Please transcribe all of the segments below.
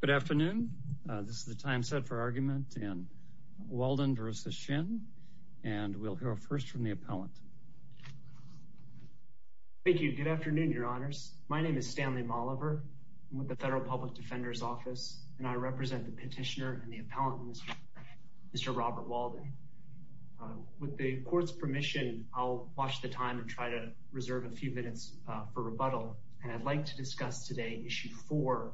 Good afternoon. This is the time set for argument in Walden v. Shinn, and we'll hear first from the appellant. Thank you. Good afternoon, Your Honors. My name is Stanley Molliver. I'm with the Federal Public Defender's Office, and I represent the petitioner and the appellant, Mr. Robert Walden. With the court's permission, I'll watch the time and try to reserve a few minutes for rebuttal, and I'd like to discuss today Issue 4,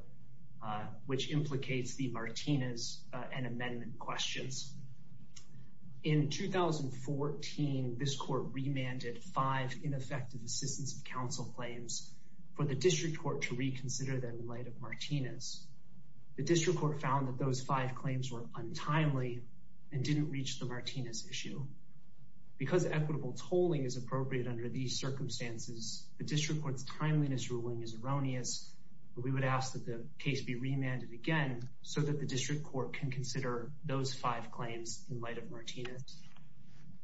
which implicates the Martinez and amendment questions. In 2014, this court remanded five ineffective assistance of counsel claims for the district court to reconsider them in light of Martinez. The district court found that those five claims were untimely and didn't reach the Martinez issue. Because equitable tolling is appropriate under these circumstances, the district court's timeliness ruling is erroneous. We would ask that the case be remanded again so that the district court can consider those five claims in light of Martinez.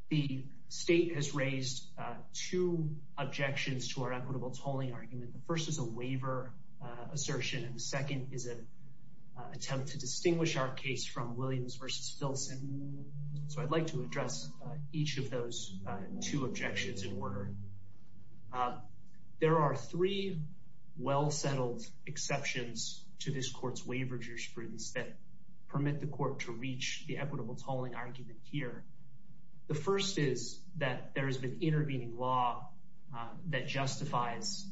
The state has raised two objections to our equitable tolling argument. The first is a waiver assertion, and the second is an attempt to distinguish our case from Williams v. Filson. So I'd like to address each of those two objections in order. There are three well-settled exceptions to this court's waiver jurisprudence that permit the court to reach the equitable tolling argument here. The first is that there has been intervening law that justifies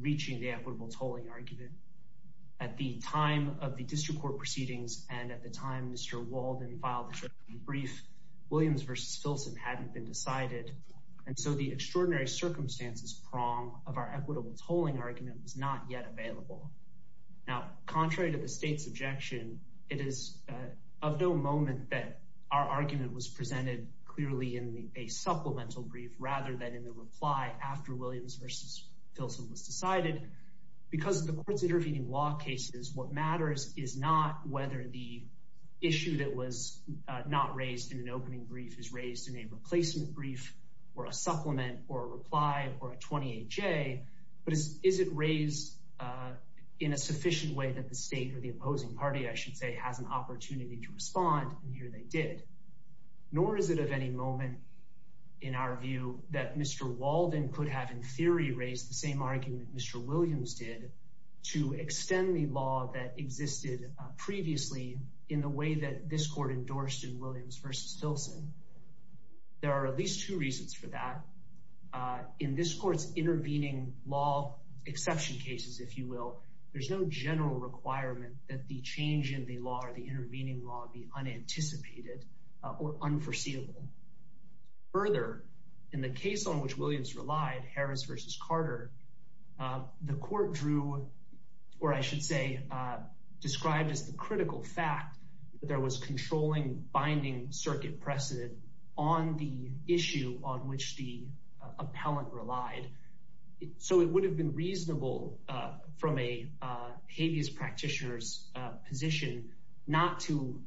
reaching the equitable tolling argument. At the time of the district court proceedings and at the time Mr. Walden filed the brief, Williams v. Filson hadn't been decided. And so the extraordinary circumstances prong of our equitable tolling argument was not yet available. Now, contrary to the state's objection, it is of no moment that our argument was presented clearly in a supplemental brief rather than in a reply after Williams v. Filson was decided. Because of the court's intervening law cases, what matters is not whether the issue that was not raised in an opening brief is raised in a replacement brief or a supplement or a reply or a 28-J, but is it raised in a sufficient way that the state or the opposing party, I should say, has an opportunity to respond, and here they did. Nor is it of any moment in our view that Mr. Walden could have in theory raised the same argument Mr. Williams did to extend the law that existed previously in the way that this court endorsed in Williams v. Filson. There are at least two reasons for that. In this court's intervening law exception cases, if you will, there's no general requirement that the change in the law or the intervening law be unanticipated or unforeseeable. Further, in the case on which Williams relied, Harris v. Carter, the court drew, or I should say described as the critical fact that there was controlling, binding circuit precedent on the issue on which the appellant relied. So it would have been reasonable from a habeas practitioner's position not to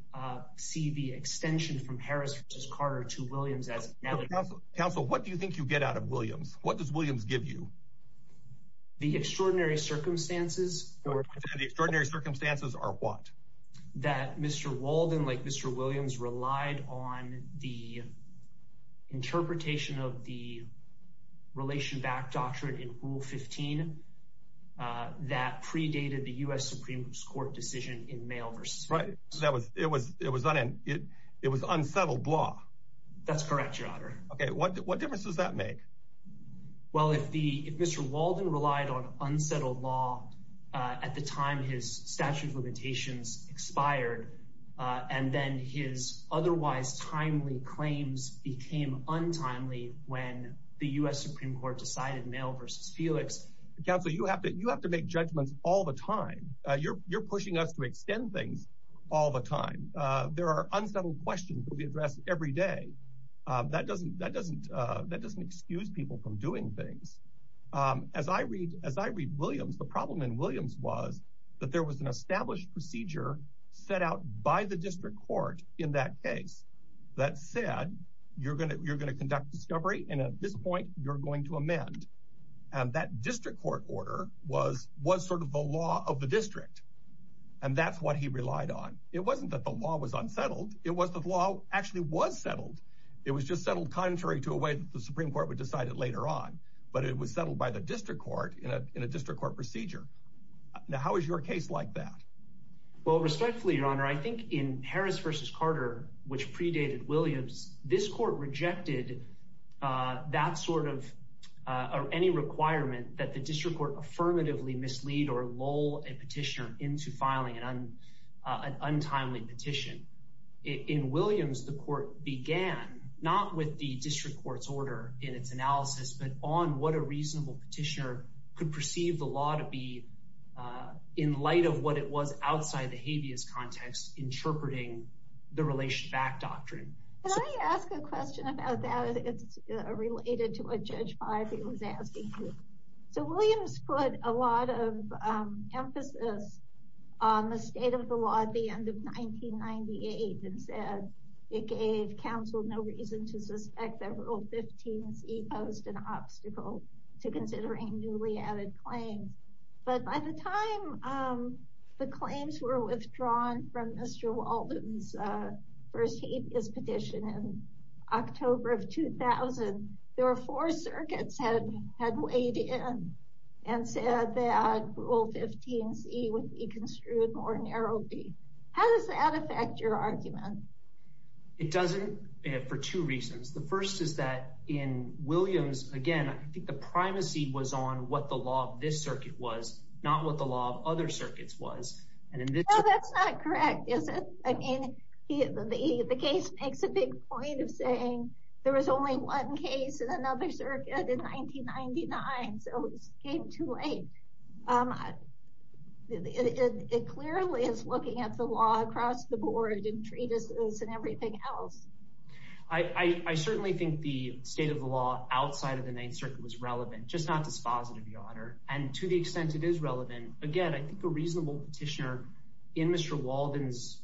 see the extension from Harris v. Carter to Williams as inevitable. Counsel, what do you think you get out of Williams? What does Williams give you? The extraordinary circumstances. The extraordinary circumstances are what? That Mr. Walden, like Mr. Williams, relied on the interpretation of the relation-backed doctrine in Rule 15 that predated the U.S. Supreme Court decision in Mayo v. Filson. Right. It was unsettled law. That's correct, Your Honor. Okay. What difference does that make? Well, if Mr. Walden relied on unsettled law at the time his statute of limitations expired and then his otherwise timely claims became untimely when the U.S. Supreme Court decided Mayo v. Felix. Counsel, you have to make judgments all the time. You're pushing us to extend things all the time. There are unsettled questions that we address every day. That doesn't excuse people from doing things. As I read Williams, the problem in Williams was that there was an established procedure set out by the district court in that case that said you're going to conduct discovery and at this point you're going to amend. And that district court order was sort of the law of the district. And that's what he relied on. It wasn't that the law was unsettled. It was the law actually was settled. It was just settled contrary to a way that the Supreme Court would decide it later on. But it was settled by the district court in a district court procedure. Now, how is your case like that? Well, respectfully, Your Honor, I think in Harris v. Carter, which predated Williams, this court rejected that sort of any requirement that the district court affirmatively mislead or lull a petitioner into filing an untimely petition. In Williams, the court began, not with the district court's order in its analysis, but on what a reasonable petitioner could perceive the law to be in light of what it was outside the habeas context, interpreting the relation back doctrine. Can I ask a question about that? It's related to what Judge Five was asking. So Williams put a lot of emphasis on the state of the law at the end of 1998 and said it gave counsel no reason to suspect that Rule 15C posed an obstacle to considering newly added claims. But by the time the claims were withdrawn from Mr. Walden's first habeas petition in October of 2000, there were four circuits that had weighed in and said that Rule 15C would be construed more narrowly. How does that affect your argument? It doesn't for two reasons. The first is that in Williams, again, I think the primacy was on what the law of this circuit was, not what the law of other circuits was. That's not correct, is it? The case makes a big point of saying there was only one case in another circuit in 1999, so it came too late. It clearly is looking at the law across the board and treatises and everything else. I certainly think the state of the law outside of the Ninth Circuit was relevant, just not dispositive, Your Honor. And to the extent it is relevant, again, I think a reasonable petitioner in Mr. Walden's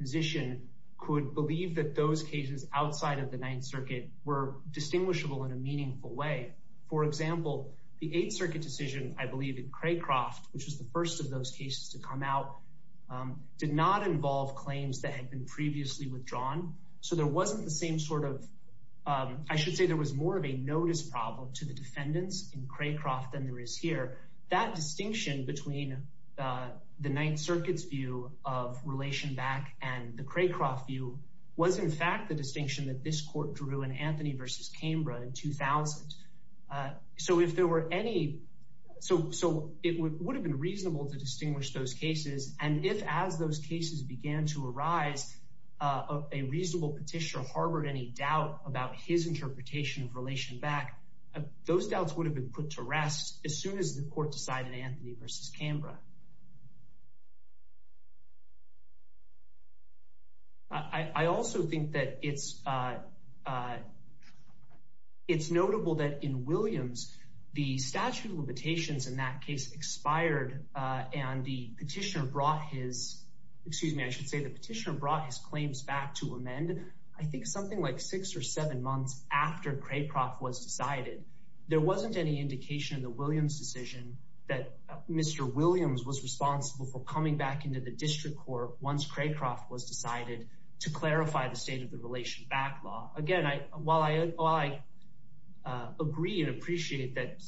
position could believe that those cases outside of the Ninth Circuit were distinguishable in a meaningful way. For example, the Eighth Circuit decision, I believe, in Craycroft, which was the first of those cases to come out, did not involve claims that had been previously withdrawn. So there wasn't the same sort of—I should say there was more of a notice problem to the defendants in Craycroft than there is here. That distinction between the Ninth Circuit's view of relation back and the Craycroft view was, in fact, the distinction that this court drew in Anthony v. Cambra in 2000. So if there were any—so it would have been reasonable to distinguish those cases, and if, as those cases began to arise, a reasonable petitioner harbored any doubt about his interpretation of relation back, those doubts would have been put to rest as soon as the court decided Anthony v. Cambra. I also think that it's notable that in Williams, the statute of limitations in that case expired, and the petitioner brought his—excuse me, I should say the petitioner brought his claims back to amend, I think, something like six or seven months after Craycroft was decided. There wasn't any indication in the Williams decision that Mr. Williams was responsible for coming back into the district court once Craycroft was decided to clarify the state of the relation back law. Again, while I agree and appreciate that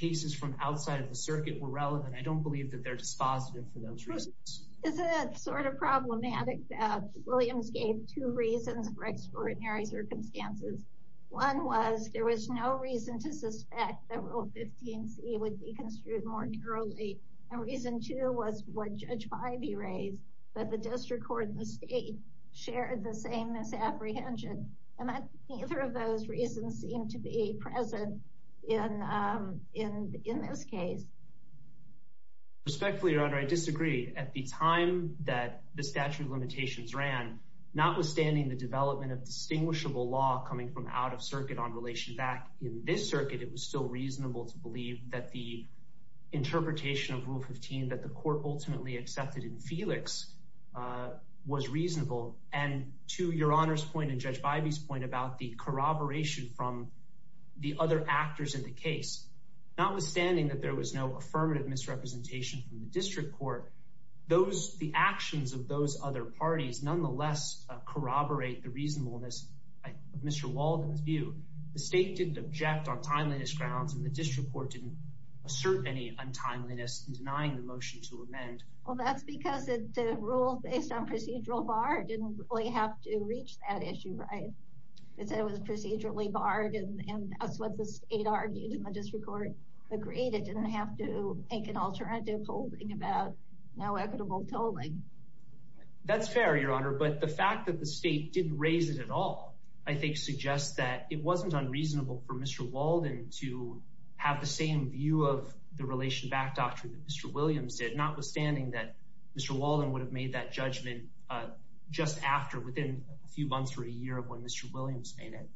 cases from outside of the circuit were relevant, I don't believe that they're dispositive for those reasons. Is it sort of problematic that Williams gave two reasons for extraordinary circumstances? One was there was no reason to suspect that Rule 15c would be construed more thoroughly, and reason two was would Judge Bybee raise that the district court and the state shared the same misapprehension, and that neither of those reasons seemed to be present in this case? Respectfully, Your Honor, I disagree. At the time that the statute of limitations ran, notwithstanding the development of distinguishable law coming from out of circuit on relation back in this circuit, it was still reasonable to believe that the interpretation of Rule 15 that the court ultimately accepted in Felix was reasonable. To Your Honor's point and Judge Bybee's point about the corroboration from the other actors in the case, notwithstanding that there was no affirmative misrepresentation from the district court, the actions of those other parties nonetheless corroborate the reasonableness of Mr. Walden's view. The state didn't object on timeliness grounds, and the district court didn't assert any untimeliness in denying the motion to amend. Well, that's because the rule based on procedural bar didn't really have to reach that issue, right? It said it was procedurally barred, and that's what the state argued, and the district court agreed it didn't have to make an alternative holding about no equitable tolling. That's fair, Your Honor, but the fact that the state didn't raise it at all, I think, suggests that it wasn't unreasonable for Mr. Walden to have the same view of the relation back doctrine that Mr. Williams did, notwithstanding that Mr. Walden would have made that judgment just after within a few months or a year of when Mr. Williams made it.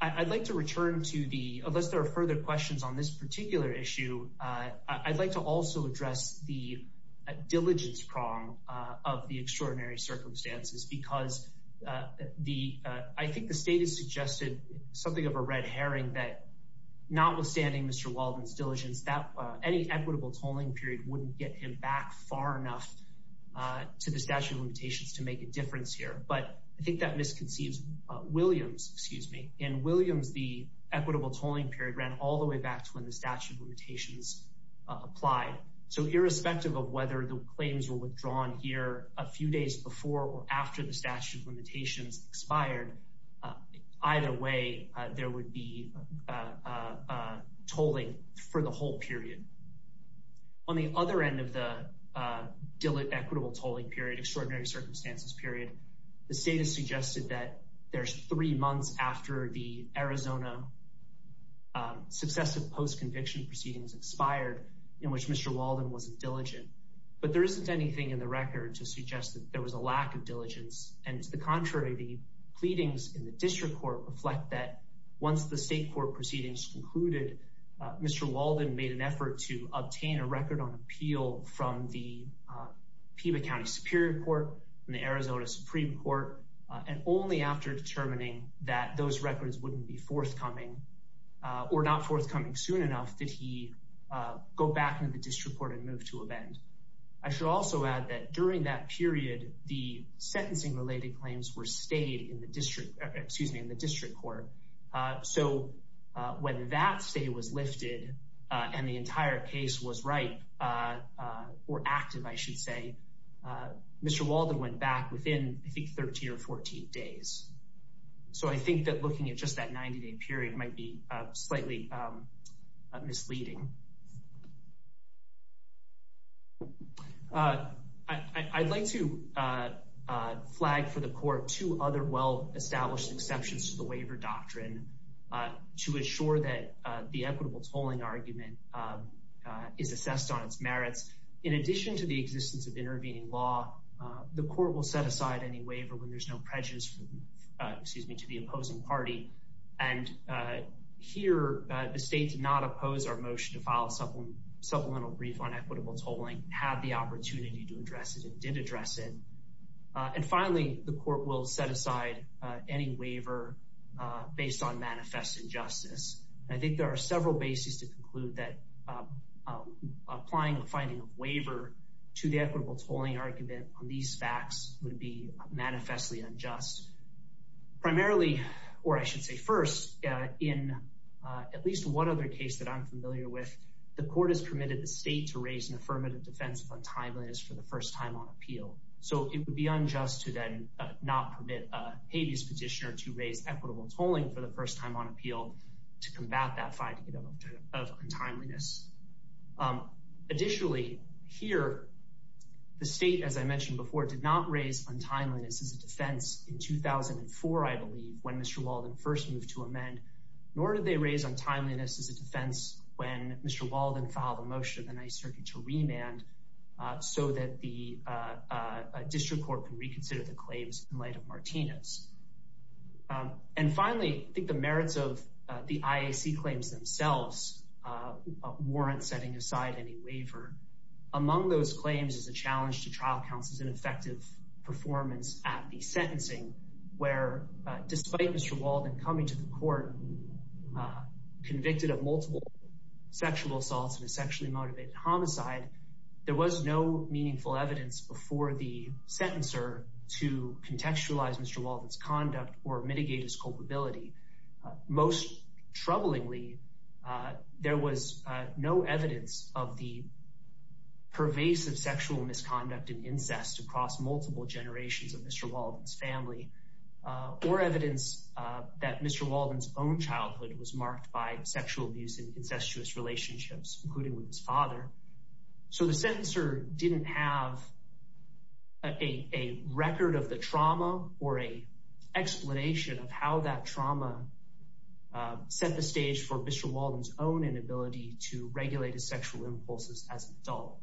I'd like to return to the, unless there are further questions on this particular issue, I'd like to also address the diligence prong of the extraordinary circumstances, because I think the state has suggested something of a red herring that, notwithstanding Mr. Walden's diligence, that any equitable tolling period wouldn't get him back far enough to the statute of limitations to make a difference here. But I think that misconceives Williams, excuse me. In Williams, the equitable tolling period ran all the way back to when the statute of limitations applied. So irrespective of whether the claims were withdrawn here a few days before or after the statute of limitations expired, either way, there would be tolling for the whole period. On the other end of the equitable tolling period, extraordinary circumstances period, the state has suggested that there's three months after the Arizona successive post-conviction proceedings expired in which Mr. Walden wasn't diligent. But there isn't anything in the record to suggest that there was a lack of diligence. And to the contrary, the pleadings in the district court reflect that once the state court proceedings concluded, Mr. Walden made an effort to obtain a record on appeal from the Peeba County Superior Court and the Arizona Supreme Court. And only after determining that those records wouldn't be forthcoming or not forthcoming soon enough, did he go back into the district court and move to a bend. I should also add that during that period, the sentencing related claims were stayed in the district, excuse me, in the district court. So when that stay was lifted and the entire case was right or active, I should say, Mr. Walden went back within, I think, 13 or 14 days. So I think that looking at just that 90-day period might be slightly misleading. I'd like to flag for the court two other well-established exceptions to the waiver doctrine to ensure that the equitable tolling argument is assessed on its merits. In addition to the existence of intervening law, the court will set aside any waiver when there's no prejudice, excuse me, to the opposing party. And here, the state did not oppose our motion to file a supplemental brief on equitable tolling, had the opportunity to address it, and did address it. And finally, the court will set aside any waiver based on manifest injustice. I think there are several bases to conclude that applying a finding of waiver to the equitable tolling argument on these facts would be manifestly unjust. Primarily, or I should say first, in at least one other case that I'm familiar with, the court has permitted the state to raise an affirmative defense of untimeliness for the first time on appeal. So it would be unjust to then not permit a habeas petitioner to raise equitable tolling for the first time on appeal to combat that finding of untimeliness. Additionally, here, the state, as I mentioned before, did not raise untimeliness as a defense in 2004, I believe, when Mr. Walden first moved to amend, nor did they raise untimeliness as a defense when Mr. Walden filed a motion in the Ninth Circuit to remand so that the district court could reconsider the claims in light of Martinez. And finally, I think the merits of the IAC claims themselves warrant setting aside any waiver. Among those claims is a challenge to trial counsel's ineffective performance at the sentencing where, despite Mr. Walden coming to the court convicted of multiple sexual assaults and a sexually motivated homicide, there was no meaningful evidence before the sentencer to contextualize Mr. Walden's conduct or mitigate his culpability. Most troublingly, there was no evidence of the pervasive sexual misconduct and incest across multiple generations of Mr. Walden's family, or evidence that Mr. Walden's own childhood was marked by sexual abuse and incestuous relationships, including with his father. So the sentencer didn't have a record of the trauma or an explanation of how that trauma set the stage for Mr. Walden's own inability to regulate his sexual impulses as an adult.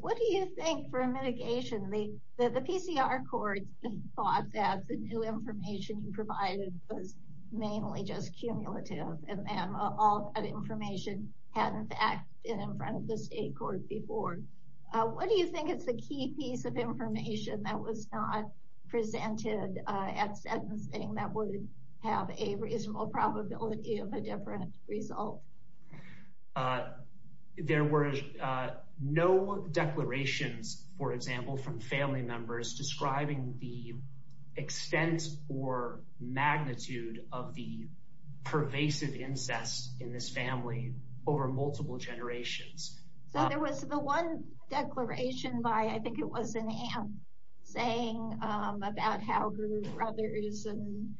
What do you think, for mitigation, the PCR courts thought that the new information you provided was mainly just cumulative and that all that information hadn't acted in front of the state court before. What do you think is the key piece of information that was not presented at sentencing that would have a reasonable probability of a different result? There were no declarations, for example, from family members describing the extent or magnitude of the pervasive incest in this family over multiple generations. So there was the one declaration by, I think it was an aunt, saying about how her brothers and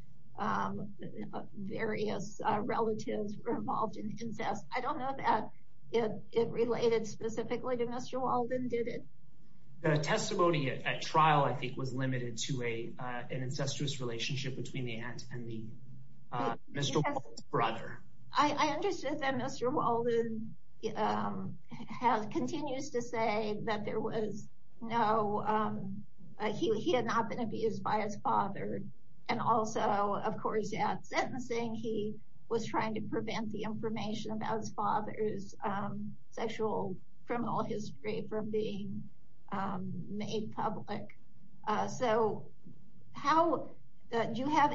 various relatives were involved in incest. I don't know that it related specifically to Mr. Walden, did it? The testimony at trial, I think, was limited to an incestuous relationship between the aunt and Mr. Walden's brother. I understand that Mr. Walden continues to say that he had not been abused by his father. And also, of course, at sentencing he was trying to prevent the information about his father's sexual criminal history from being made public. Do you have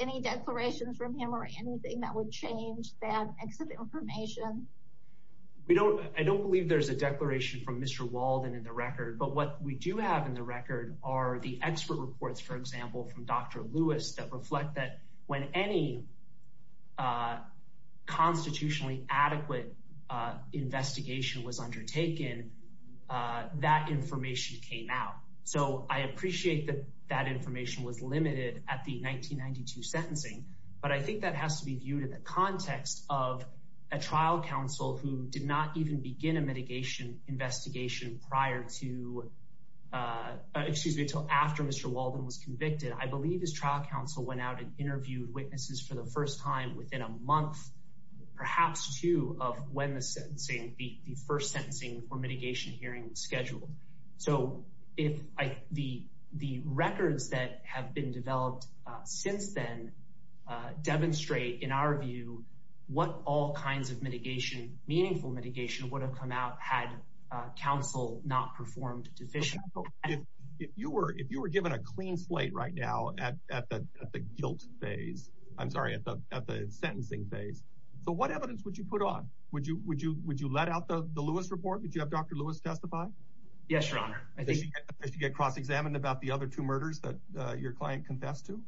any declarations from him or anything that would change that information? I don't believe there's a declaration from Mr. Walden in the record. But what we do have in the record are the expert reports, for example, from Dr. Lewis that reflect that when any constitutionally adequate investigation was undertaken, that information came out. So I appreciate that that information was limited at the 1992 sentencing. But I think that has to be viewed in the context of a trial counsel who did not even begin a mitigation investigation prior to, excuse me, until after Mr. Walden was convicted. I believe his trial counsel went out and interviewed witnesses for the first time within a month, perhaps two, of when the first sentencing or mitigation hearing was scheduled. So if the records that have been developed since then demonstrate, in our view, what all kinds of mitigation, meaningful mitigation, would have come out had counsel not performed deficiently. If you were given a clean slate right now at the guilt phase, I'm sorry, at the sentencing phase, so what evidence would you put on? Would you let out the Lewis report? Would you have Dr. Lewis testify? Yes, Your Honor. Does she get cross-examined about the other two murders that your client confessed to?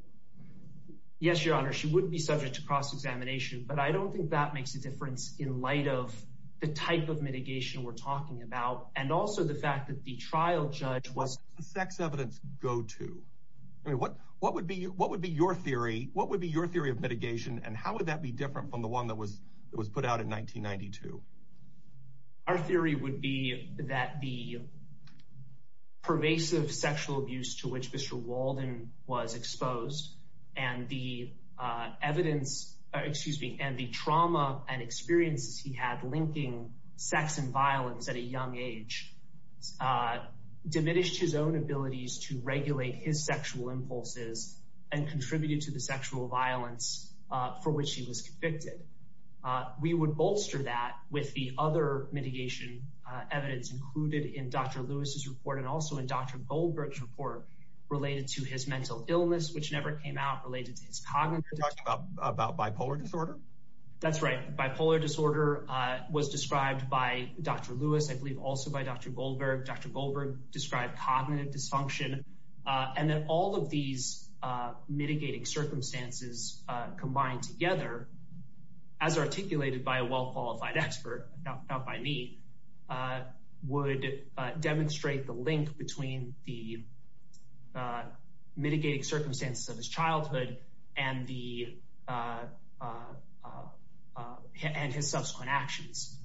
Yes, Your Honor. She would be subject to cross-examination. But I don't think that makes a difference in light of the type of mitigation we're talking about and also the fact that the trial judge was… What would be your theory of mitigation and how would that be different from the one that was put out in 1992? Our theory would be that the pervasive sexual abuse to which Mr. Walden was exposed and the trauma and experiences he had linking sex and violence at a young age diminished his own abilities to regulate his sexual impulses and contributed to the sexual violence for which he was convicted. We would bolster that with the other mitigation evidence included in Dr. Lewis's report and also in Dr. Goldberg's report related to his mental illness, which never came out, related to his cognitive… You're talking about bipolar disorder? That's right. Bipolar disorder was described by Dr. Lewis, I believe also by Dr. Goldberg. Dr. Goldberg described cognitive dysfunction and that all of these mitigating circumstances combined together, as articulated by a well-qualified expert, not by me, would demonstrate the link between the mitigating circumstances of his childhood and his subsequent actions.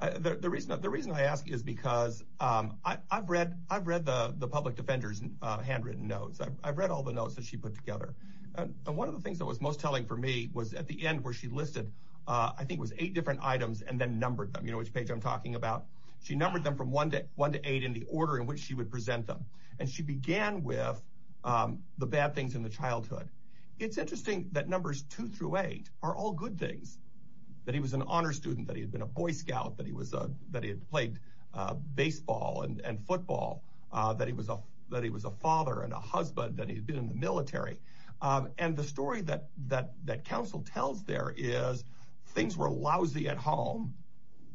The reason I ask is because I've read the public defender's handwritten notes. I've read all the notes that she put together. One of the things that was most telling for me was at the end where she listed, I think it was eight different items and then numbered them, which page I'm talking about. She numbered them from one to eight in the order in which she would present them. And she began with the bad things in the childhood. It's interesting that numbers two through eight are all good things, that he was an honor student, that he had been a Boy Scout, that he had played baseball and football, that he was a father and a husband, that he had been in the military. And the story that counsel tells there is things were lousy at home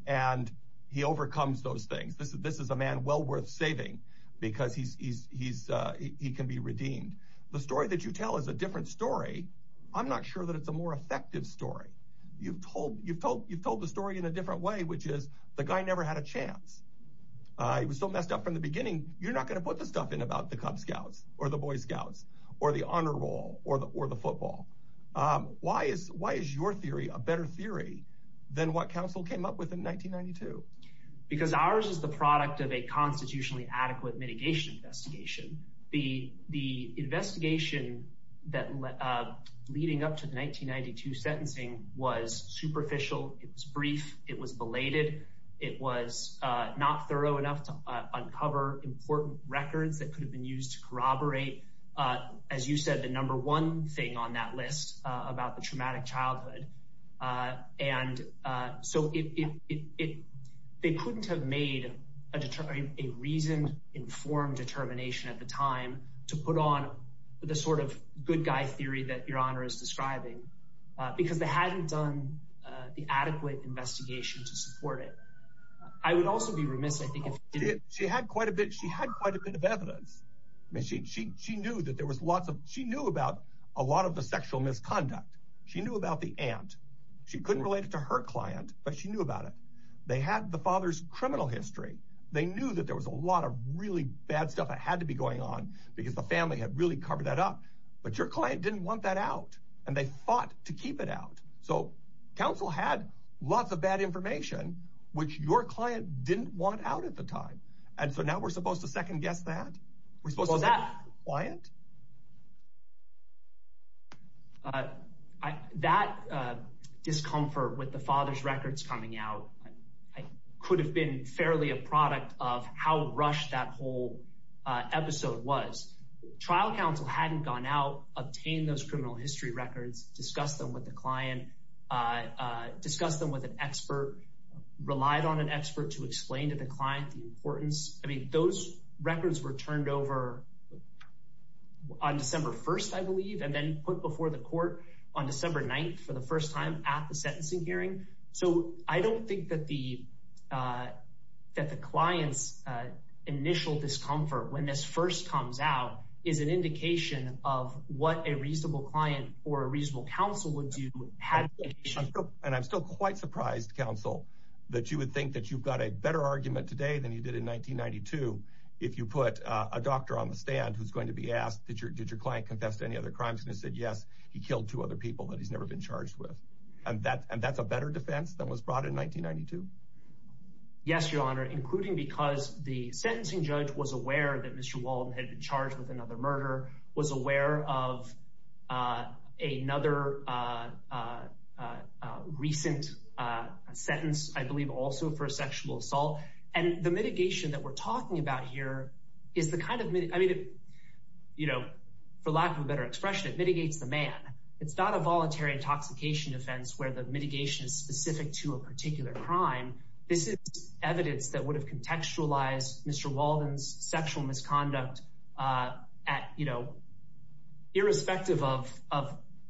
and he overcomes those things. This is a man well worth saving because he can be redeemed. The story that you tell is a different story. I'm not sure that it's a more effective story. You've told the story in a different way, which is the guy never had a chance. He was so messed up from the beginning. You're not going to put the stuff in about the Cub Scouts or the Boy Scouts or the Honor Roll or the football. Why is your theory a better theory than what counsel came up with in 1992? Because ours is the product of a constitutionally adequate mitigation investigation. The investigation that leading up to the 1992 sentencing was superficial. It was brief. It was belated. It was not thorough enough to uncover important records that could have been used to corroborate, as you said, the number one thing on that list about the traumatic childhood. And so it they couldn't have made a reasoned, informed determination at the time to put on the sort of good guy theory that your honor is describing because they hadn't done the adequate investigation to support it. I would also be remiss if she had quite a bit. She had quite a bit of evidence. She knew about a lot of the sexual misconduct. She knew about the aunt. She couldn't relate it to her client, but she knew about it. They had the father's criminal history. They knew that there was a lot of really bad stuff that had to be going on because the family had really covered that up. But your client didn't want that out, and they fought to keep it out. So counsel had lots of bad information, which your client didn't want out at the time. And so now we're supposed to second guess that we're supposed to that client. That discomfort with the father's records coming out could have been fairly a product of how rushed that whole episode was. Trial counsel hadn't gone out, obtained those criminal history records, discussed them with the client, discussed them with an expert, relied on an expert to explain to the client the importance. I mean, those records were turned over on December 1st, I believe, and then put before the court on December 9th for the first time at the sentencing hearing. So I don't think that the client's initial discomfort when this first comes out is an indication of what a reasonable client or a reasonable counsel would do. And I'm still quite surprised, counsel, that you would think that you've got a better argument today than you did in 1992 if you put a doctor on the stand who's going to be asked, did your client confess to any other crimes, and he said yes, he killed two other people that he's never been charged with. And that's a better defense than was brought in 1992? Yes, Your Honor, including because the sentencing judge was aware that Mr. Walden had been charged with another murder, was aware of another recent sentence, I believe, also for sexual assault. And the mitigation that we're talking about here is the kind of, I mean, you know, for lack of a better expression, it mitigates the man. It's not a voluntary intoxication offense where the mitigation is specific to a particular crime. This is evidence that would have contextualized Mr. Walden's sexual misconduct at, you know, irrespective of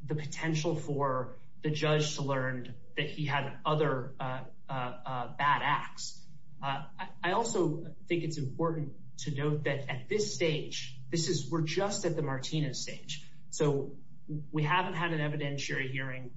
the potential for the judge to learn that he had other bad acts. I also think it's important to note that at this stage, this is, we're just at the Martinez stage. So we haven't had an evidentiary hearing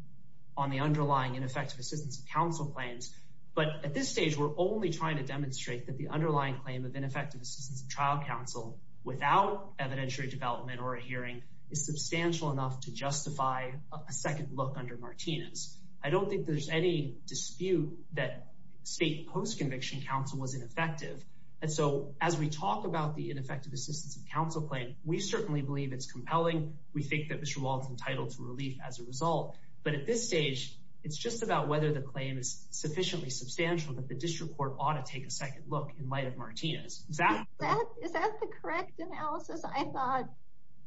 on the underlying ineffective assistance of counsel claims. But at this stage, we're only trying to demonstrate that the underlying claim of ineffective assistance of trial counsel without evidentiary development or a hearing is substantial enough to justify a second look under Martinez. I don't think there's any dispute that state post-conviction counsel was ineffective. And so as we talk about the ineffective assistance of counsel claim, we certainly believe it's compelling. We think that Mr. Walden's entitled to relief as a result. But at this stage, it's just about whether the claim is sufficiently substantial that the district court ought to take a second look in light of Martinez. Is that the correct analysis? I thought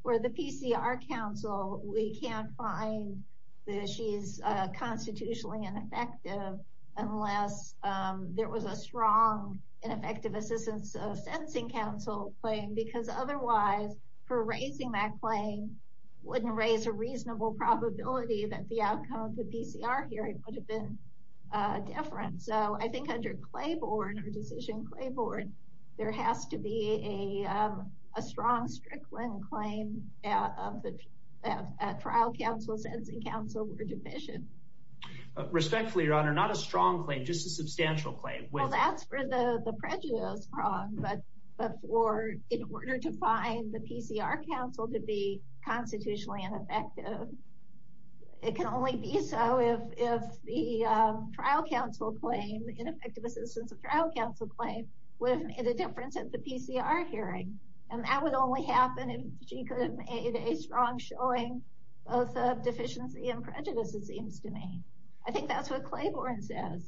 for the PCR counsel, we can't find that she is constitutionally ineffective unless there was a strong ineffective assistance of sentencing counsel claim. Because otherwise, for raising that claim wouldn't raise a reasonable probability that the outcome of the PCR hearing would have been different. So I think under Clayboard or Decision Clayboard, there has to be a strong Strickland claim of the trial counsel sentencing counsel were deficient. Respectfully, Your Honor, not a strong claim, just a substantial claim. Well, that's for the prejudice prong, but for in order to find the PCR counsel to be constitutionally ineffective. It can only be so if the trial counsel claim, ineffective assistance of trial counsel claim, would have made a difference at the PCR hearing. And that would only happen if she could have made a strong showing of deficiency and prejudice, it seems to me. I think that's what Claiborne says.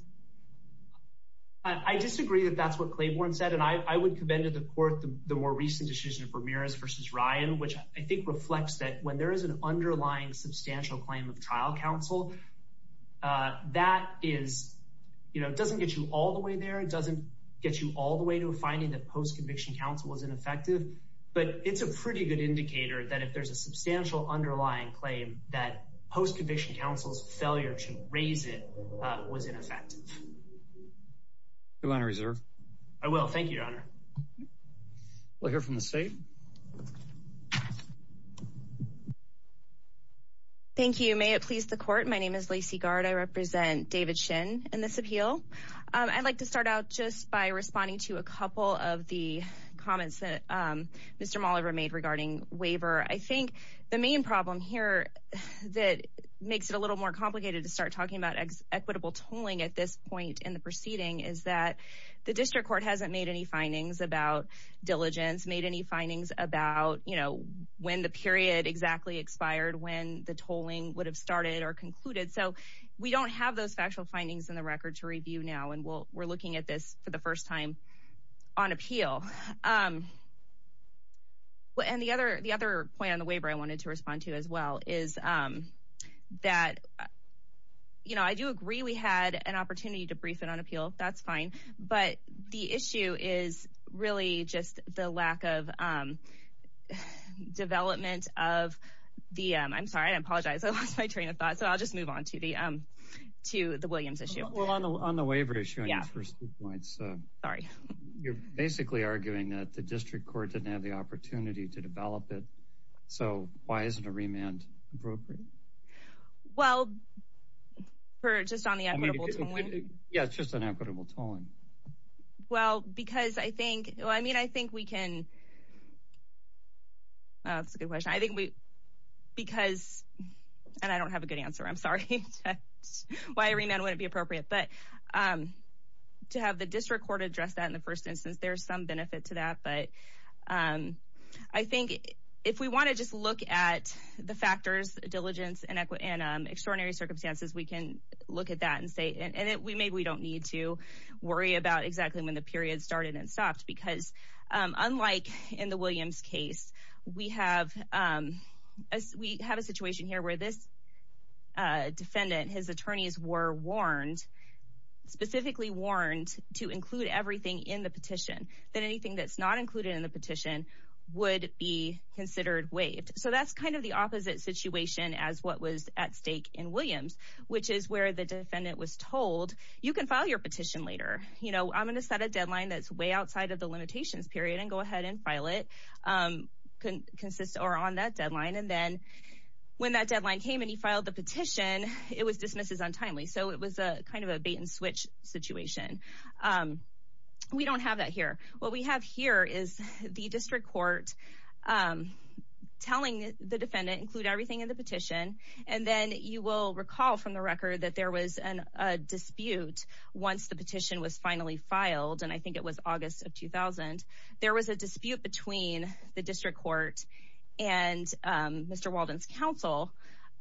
I disagree that that's what Claiborne said, and I would commend to the court the more recent decision of Ramirez versus Ryan, which I think reflects that when there is an underlying substantial claim of trial counsel. That is, you know, it doesn't get you all the way there. It doesn't get you all the way to finding that post conviction counsel was ineffective. But it's a pretty good indicator that if there's a substantial underlying claim that post conviction counsel's failure to raise it was ineffective. Your Honor, reserve. I will. Thank you, Your Honor. We'll hear from the state. Thank you. May it please the court. My name is Lacey Gard. I represent David Shin and this appeal. I'd like to start out just by responding to a couple of the comments that Mr. We're looking at this for the first time on appeal. And the other the other plan, the waiver I wanted to respond to as well is that, you know, I do agree we had an opportunity to brief it on appeal. That's fine. But the issue is really just the lack of development of the I'm sorry, I apologize. I lost my train of thought. So I'll just move on to the to the Williams issue. Well, on the on the waiver issue. Yeah. First points. Sorry. You're basically arguing that the district court didn't have the opportunity to develop it. So why isn't a remand appropriate? Well, for just on the. Yeah, it's just an equitable time. Well, because I think I mean, I think we can. That's a good question. I think we because and I don't have a good answer. I'm sorry. Why remand wouldn't be appropriate, but to have the district court address that in the first instance, there's some benefit to that. But I think if we want to just look at the factors, diligence and extraordinary circumstances, we can look at that and say, and we may, we don't need to worry about exactly when the period started and stopped. Because unlike in the Williams case, we have as we have a situation here where this defendant, his attorneys were warned, specifically warned to include everything in the petition that anything that's not included in the petition would be considered waived. So that's kind of the opposite situation as what was at stake in Williams, which is where the defendant was told, you can file your petition later. You know, I'm going to set a deadline that's way outside of the limitations period and go ahead and file it can consist or on that deadline. And then when that deadline came and he filed the petition, it was dismissed as untimely. So it was a kind of a bait and switch situation. We don't have that here. What we have here is the district court telling the defendant include everything in the petition. And then you will recall from the record that there was a dispute once the petition was finally filed. And I think it was August of 2000. There was a dispute between the district court and Mr. Walden's counsel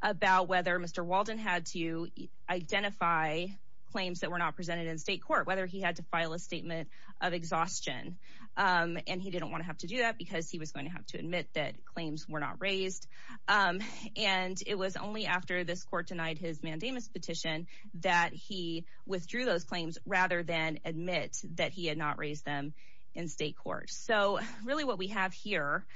about whether Mr. Walden had to identify claims that were not presented in state court, whether he had to file a statement of exhaustion. And he didn't want to have to do that because he was going to have to admit that claims were not raised. And it was only after this court denied his mandamus petition that he withdrew those claims rather than admit that he had not raised them in state court. So really what we have here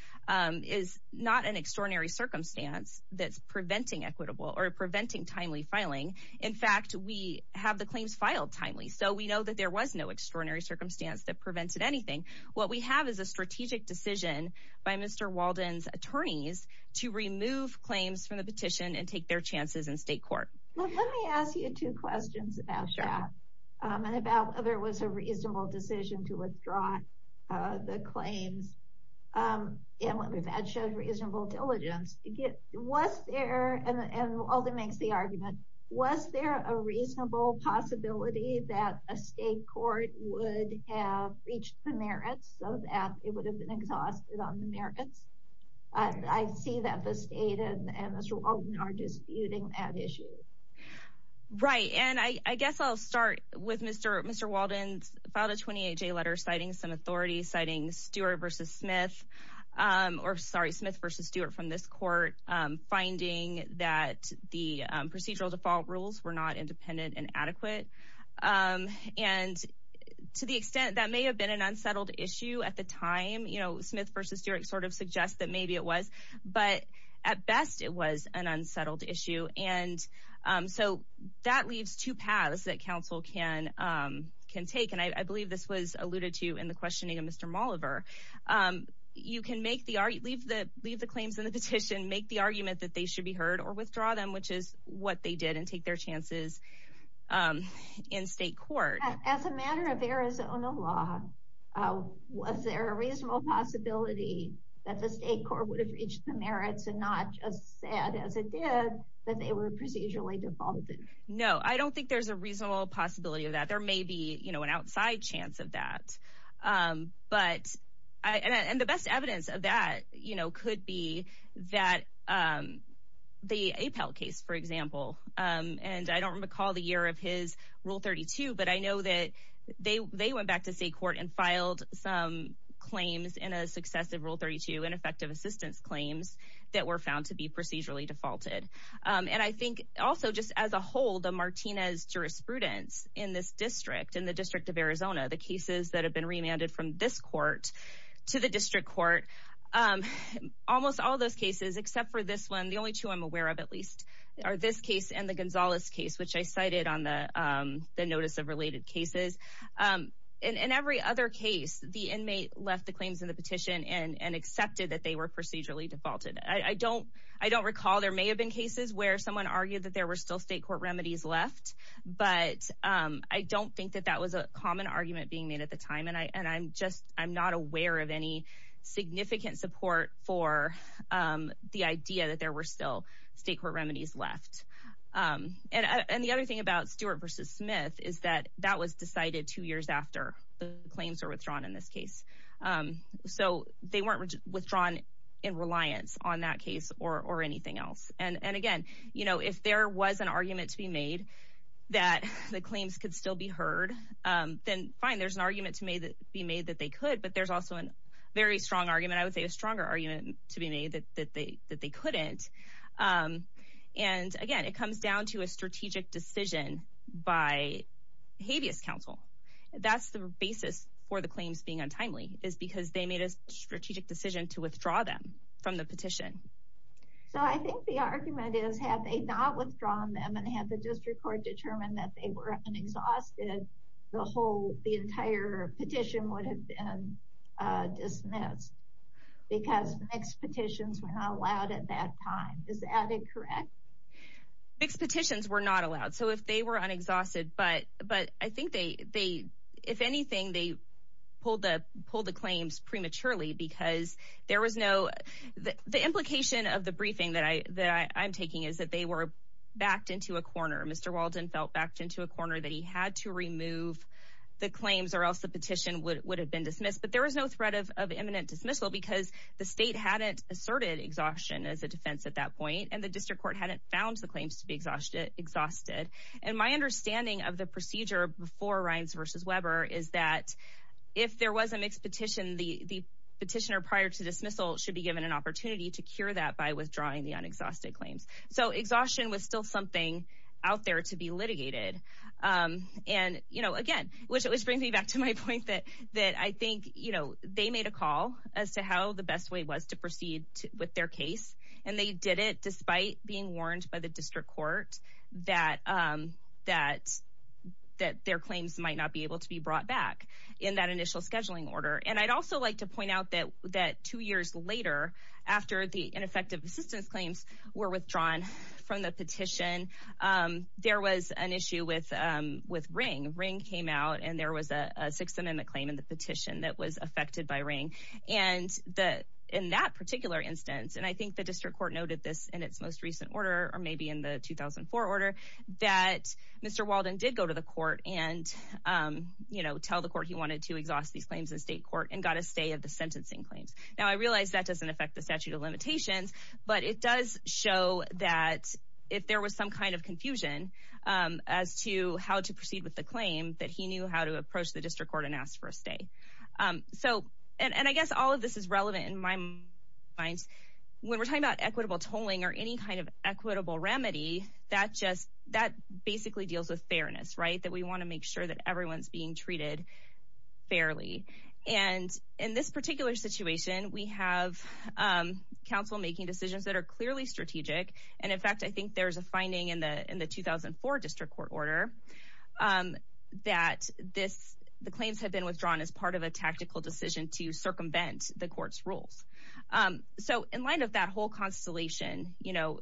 is not an extraordinary circumstance that's preventing equitable or preventing timely filing. In fact, we have the claims filed timely. So we know that there was no extraordinary circumstance that prevented anything. What we have is a strategic decision by Mr. Walden's attorneys to remove claims from the petition and take their chances in state court. Let me ask you two questions about that and about whether it was a reasonable decision to withdraw the claims and whether that showed reasonable diligence. Was there, and Walden makes the argument, was there a reasonable possibility that a state court would have reached the merits so that it would have been exhausted on the merits? I see that the state and Mr. Walden are disputing that issue. Right, and I guess I'll start with Mr. Walden filed a 28-J letter citing some authority, citing Smith v. Stewart from this court, finding that the procedural default rules were not independent and adequate. And to the extent that may have been an unsettled issue at the time, you know, Smith v. Stewart sort of suggests that maybe it was. But at best, it was an unsettled issue. And so that leaves two paths that counsel can take. And I believe this was alluded to in the questioning of Mr. Molliver. You can make the argument, leave the claims in the petition, make the argument that they should be heard or withdraw them, which is what they did and take their chances in state court. As a matter of Arizona law, was there a reasonable possibility that the state court would have reached the merits and not just said as it did that they were procedurally defaulted? No, I don't think there's a reasonable possibility of that. There may be, you know, an outside chance of that. But and the best evidence of that, you know, could be that the APAL case, for example, and I don't recall the year of his Rule 32, but I know that they went back to state court and filed some claims in a successive Rule 32 and effective assistance claims that were found to be procedurally defaulted. And I think also just as a whole, the Martinez jurisprudence in this district, in the District of Arizona, the cases that have been remanded from this court to the district court, almost all those cases, except for this one. The only two I'm aware of, at least, are this case and the Gonzalez case, which I cited on the notice of related cases. In every other case, the inmate left the claims in the petition and accepted that they were procedurally defaulted. I don't I don't recall. There may have been cases where someone argued that there were still state court remedies left. But I don't think that that was a common argument being made at the time. And I and I'm just I'm not aware of any significant support for the idea that there were still state court remedies left. And the other thing about Stewart versus Smith is that that was decided two years after the claims are withdrawn in this case. So they weren't withdrawn in reliance on that case or anything else. And again, you know, if there was an argument to be made that the claims could still be heard, then fine. There's an argument to be made that they could, but there's also a very strong argument, I would say, a stronger argument to be made that they that they couldn't. And again, it comes down to a strategic decision by habeas counsel. That's the basis for the claims being untimely, is because they made a strategic decision to withdraw them from the petition. So I think the argument is, had they not withdrawn them and had the district court determined that they were unexhausted, the whole the entire petition would have been dismissed. Because expectations were not allowed at that time. Is that incorrect? Expectations were not allowed. So if they were unexhausted, but but I think they they if anything, they pulled the pulled the claims prematurely because there was no. The implication of the briefing that I that I'm taking is that they were backed into a corner. Mr. Walden felt backed into a corner that he had to remove the claims or else the petition would have been dismissed. But there was no threat of imminent dismissal because the state hadn't asserted exhaustion as a defense at that point. And the district court hadn't found the claims to be exhausted, exhausted. And my understanding of the procedure before Ryan's versus Weber is that if there was a mixed petition, the petitioner prior to dismissal should be given an opportunity to cure that by withdrawing the unexhausted claims. So exhaustion was still something out there to be litigated. And, you know, again, which it was bringing me back to my point that that I think, you know, they made a call as to how the best way was to proceed with their case. And they did it despite being warned by the district court that that that their claims might not be able to be brought back in that initial scheduling order. And I'd also like to point out that that two years later, after the ineffective assistance claims were withdrawn from the petition, there was an issue with with ring. Ring came out and there was a Sixth Amendment claim in the petition that was affected by ring. And the in that particular instance, and I think the district court noted this in its most recent order or maybe in the 2004 order that Mr. Walden did go to the court and, you know, tell the court he wanted to exhaust these claims in state court and got a stay of the sentencing claims. Now, I realize that doesn't affect the statute of limitations, but it does show that if there was some kind of confusion as to how to proceed with the claim that he knew how to approach the district court and ask for a stay. So and I guess all of this is relevant in my mind when we're talking about equitable tolling or any kind of equitable remedy that just that basically deals with fairness. Right. That we want to make sure that everyone's being treated fairly. And in this particular situation, we have counsel making decisions that are clearly strategic. And in fact, I think there's a finding in the in the 2004 district court order that this the claims have been withdrawn as part of a tactical decision to circumvent the court's rules. So in light of that whole constellation, you know,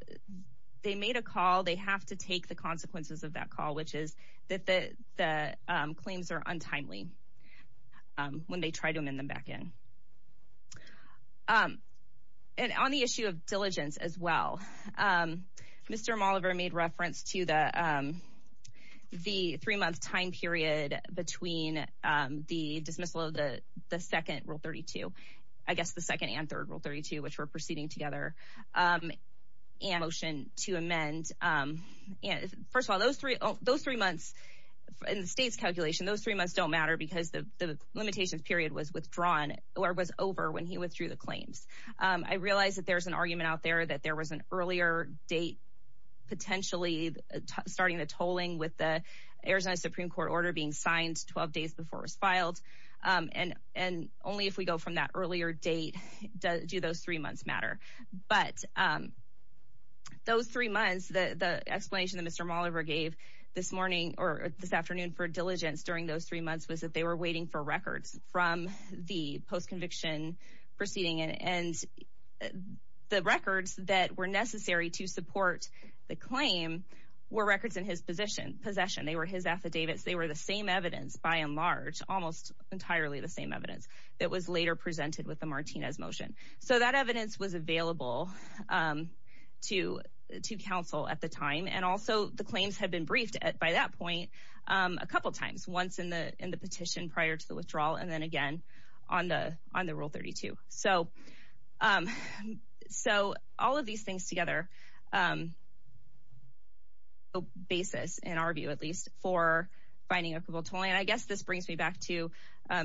they made a call. They have to take the consequences of that call, which is that the claims are untimely when they try to amend them back in. And on the issue of diligence as well, Mr. was over when he withdrew the claims. I realize that there's an argument out there that there was an earlier date potentially starting the tolling with the Arizona Supreme Court order being signed 12 days before it was filed. And and only if we go from that earlier date do those three months matter. But those three months, the explanation that Mr. gave this morning or this afternoon for diligence during those three months was that they were waiting for records from the post conviction proceeding. And the records that were necessary to support the claim were records in his position possession. They were his affidavits. They were the same evidence by and large, almost entirely the same evidence that was later presented with the Martinez motion. So that evidence was available to to counsel at the time. And also the claims had been briefed by that point a couple of times, once in the in the petition prior to the withdrawal. And then again, on the on the rule 32. So so all of these things together. Basis, in our view, at least for finding a total. And I guess this brings me back to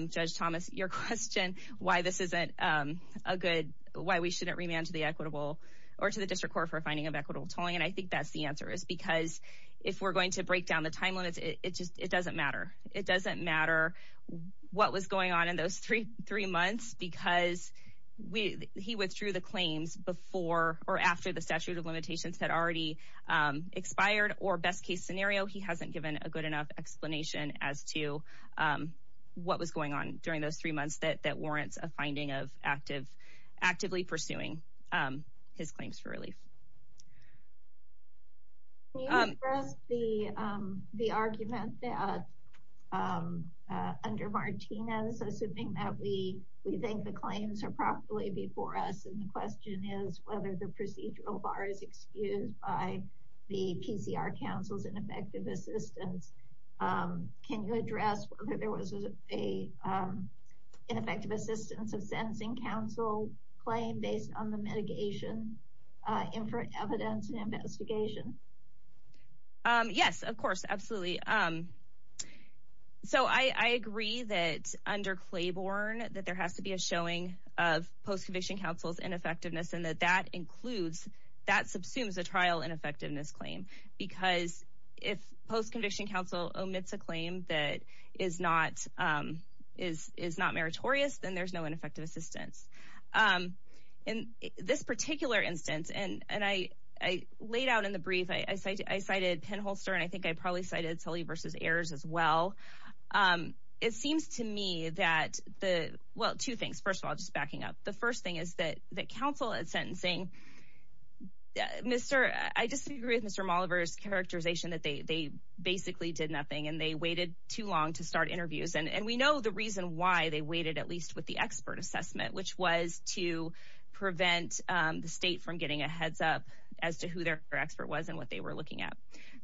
Judge Thomas. Your question, why this isn't a good why we shouldn't remand to the equitable or to the district court for finding of equitable tolling. And I think that's the answer is because if we're going to break down the time limits, it just it doesn't matter. It doesn't matter what was going on in those three three months because we he withdrew the claims before or after the statute of limitations had already expired or best case scenario. He hasn't given a good enough explanation as to what was going on during those three months. That that warrants a finding of active actively pursuing his claims for relief. First, the the argument that under Martinez, assuming that we we think the claims are properly before us. And the question is whether the procedural bar is excused by the PCR councils and effective assistance. Can you address whether there was a ineffective assistance of sentencing council claim based on the mitigation in front evidence and investigation? Yes, of course, absolutely. So I agree that under Claiborne that there has to be a showing of post conviction councils and effectiveness and that that includes that subsumes a trial and effectiveness claim. Because if post conviction council omits a claim that is not is is not meritorious, then there's no ineffective assistance in this particular instance. And and I I laid out in the brief I cited Penholster and I think I probably cited Sully versus errors as well. It seems to me that the well, two things. First of all, just backing up. The first thing is that the council is sentencing. Mr. I disagree with Mr. Oliver's characterization that they basically did nothing and they waited too long to start interviews. And we know the reason why they waited, at least with the expert assessment, which was to prevent the state from getting a heads up as to who their expert was and what they were looking at.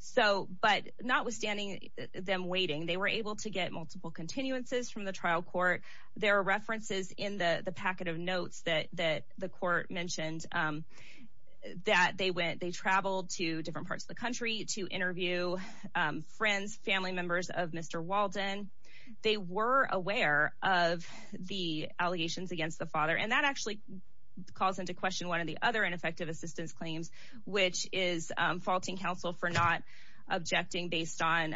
So but notwithstanding them waiting, they were able to get multiple continuances from the trial court. There are references in the packet of notes that that the court mentioned that they went. They traveled to different parts of the country to interview friends, family members of Mr. Walden. They were aware of the allegations against the father. And that actually calls into question one of the other ineffective assistance claims, which is faulting council for not objecting based on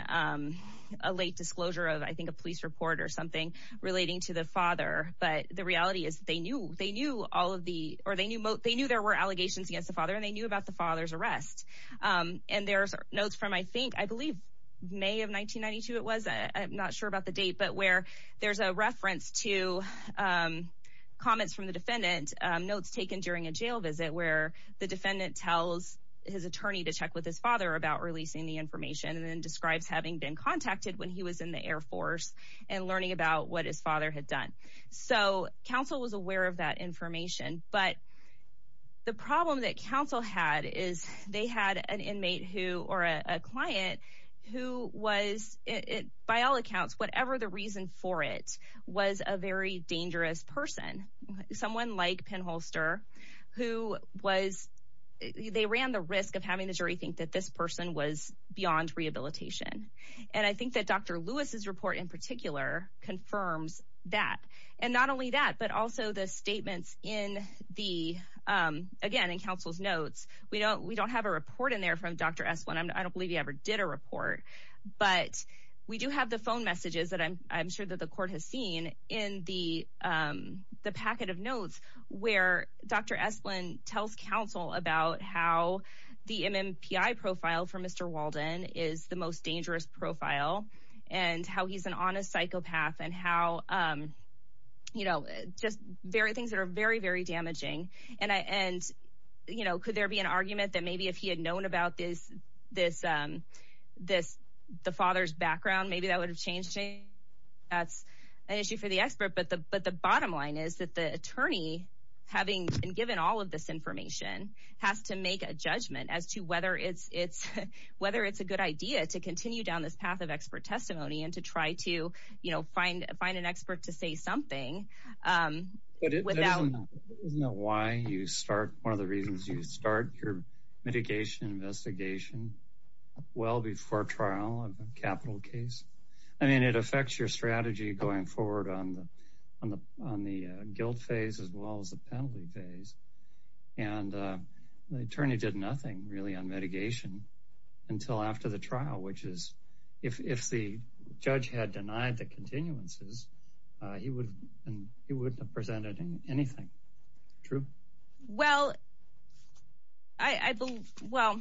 a late disclosure of, I think, a police report or something relating to the father. But the reality is they knew they knew all of the or they knew they knew there were allegations against the father and they knew about the father's arrest. And there's notes from, I think, I believe, May of 1992. It was. I'm not sure about the date, but where there's a reference to comments from the defendant notes taken during a jail visit where the defendant tells his attorney to check with his father about releasing the information and then describes having been contacted when he was in the Air Force and learning about what his father had done. So council was aware of that information. But the problem that council had is they had an inmate who or a client who was, by all accounts, whatever the reason for it was a very dangerous person, someone like Penholster, who was they ran the risk of having the jury think that this person was beyond rehabilitation. And I think that Dr. Lewis's report in particular confirms that. And not only that, but also the statements in the again in council's notes, we don't we don't have a report in there from Dr. But we do have the phone messages that I'm sure that the court has seen in the packet of notes where Dr. Profile from Mr. Walden is the most dangerous profile and how he's an honest psychopath and how, you know, just very things that are very, very damaging. And I and, you know, could there be an argument that maybe if he had known about this, this, this the father's background, maybe that would have changed. That's an issue for the expert. But the but the bottom line is that the attorney, having been given all of this information, has to make a judgment as to whether it's it's whether it's a good idea to continue down this path of expert testimony and to try to, you know, find find an expert to say something. But it doesn't know why you start. One of the reasons you start your mitigation investigation well before trial of a capital case. I mean, it affects your strategy going forward on the on the on the guilt phase as well as the penalty phase. And the attorney did nothing really on mitigation until after the trial, which is if the judge had denied the continuances, he would and he would have presented anything true. Well, I believe. Well,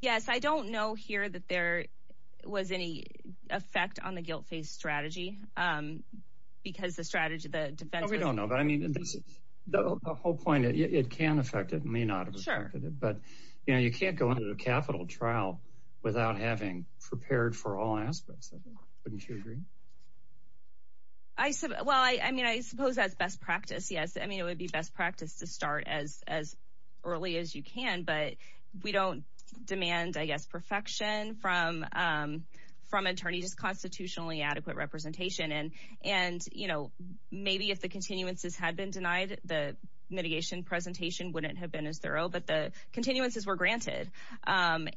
yes, I don't know here that there was any effect on the guilt phase strategy because the strategy of the defense. No, we don't know. But I mean, that's the whole point. It can affect it may not. But, you know, you can't go into a capital trial without having prepared for all aspects. Wouldn't you agree? I said, well, I mean, I suppose that's best practice. Yes. I mean, it would be best practice to start as as early as you can. But we don't demand, I guess, perfection from from attorneys, constitutionally adequate representation. And and, you know, maybe if the continuances had been denied, the mitigation presentation wouldn't have been as thorough. But the continuances were granted. And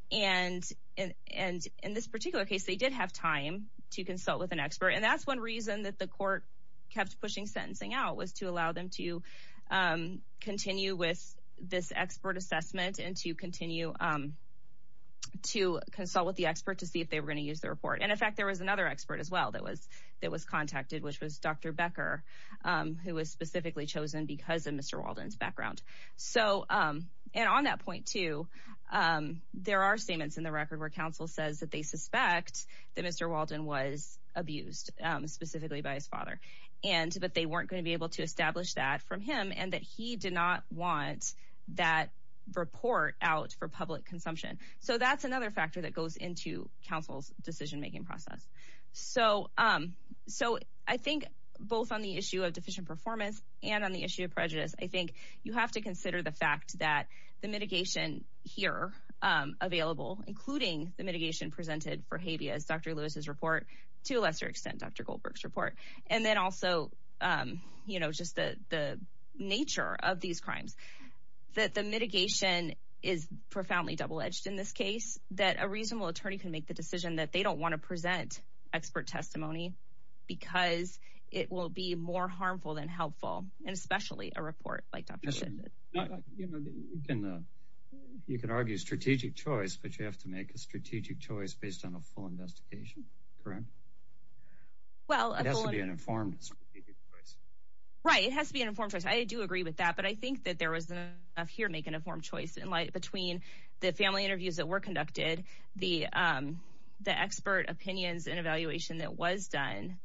and in this particular case, they did have time to consult with an expert. And that's one reason that the court kept pushing sentencing out was to allow them to continue with this expert assessment and to continue to consult with the expert to see if they were going to use the report. And in fact, there was another expert as well. That was that was contacted, which was Dr. Becker, who was specifically chosen because of Mr. Walden's background. So and on that point, too, there are statements in the record where counsel says that they suspect that Mr. Walden was abused specifically by his father. And but they weren't going to be able to establish that from him and that he did not want that report out for public consumption. So that's another factor that goes into counsel's decision making process. So so I think both on the issue of deficient performance and on the issue of prejudice, I think you have to consider the fact that the mitigation here available, including the mitigation presented for habeas. Dr. Lewis's report, to a lesser extent, Dr. Goldberg's report. And then also, you know, just the nature of these crimes, that the mitigation is profoundly double edged in this case, that a reasonable attorney can make the decision that they don't want to present expert testimony because it will be more harmful than helpful. And especially a report like that. You know, you can you can argue strategic choice, but you have to make a strategic choice based on a full investigation. Correct. Well, it has to be an informed choice. Right. It has to be an informed choice. I do agree with that. But I think that there was enough here make an informed choice in light between the family interviews that were conducted, the the expert opinions and evaluation that was done.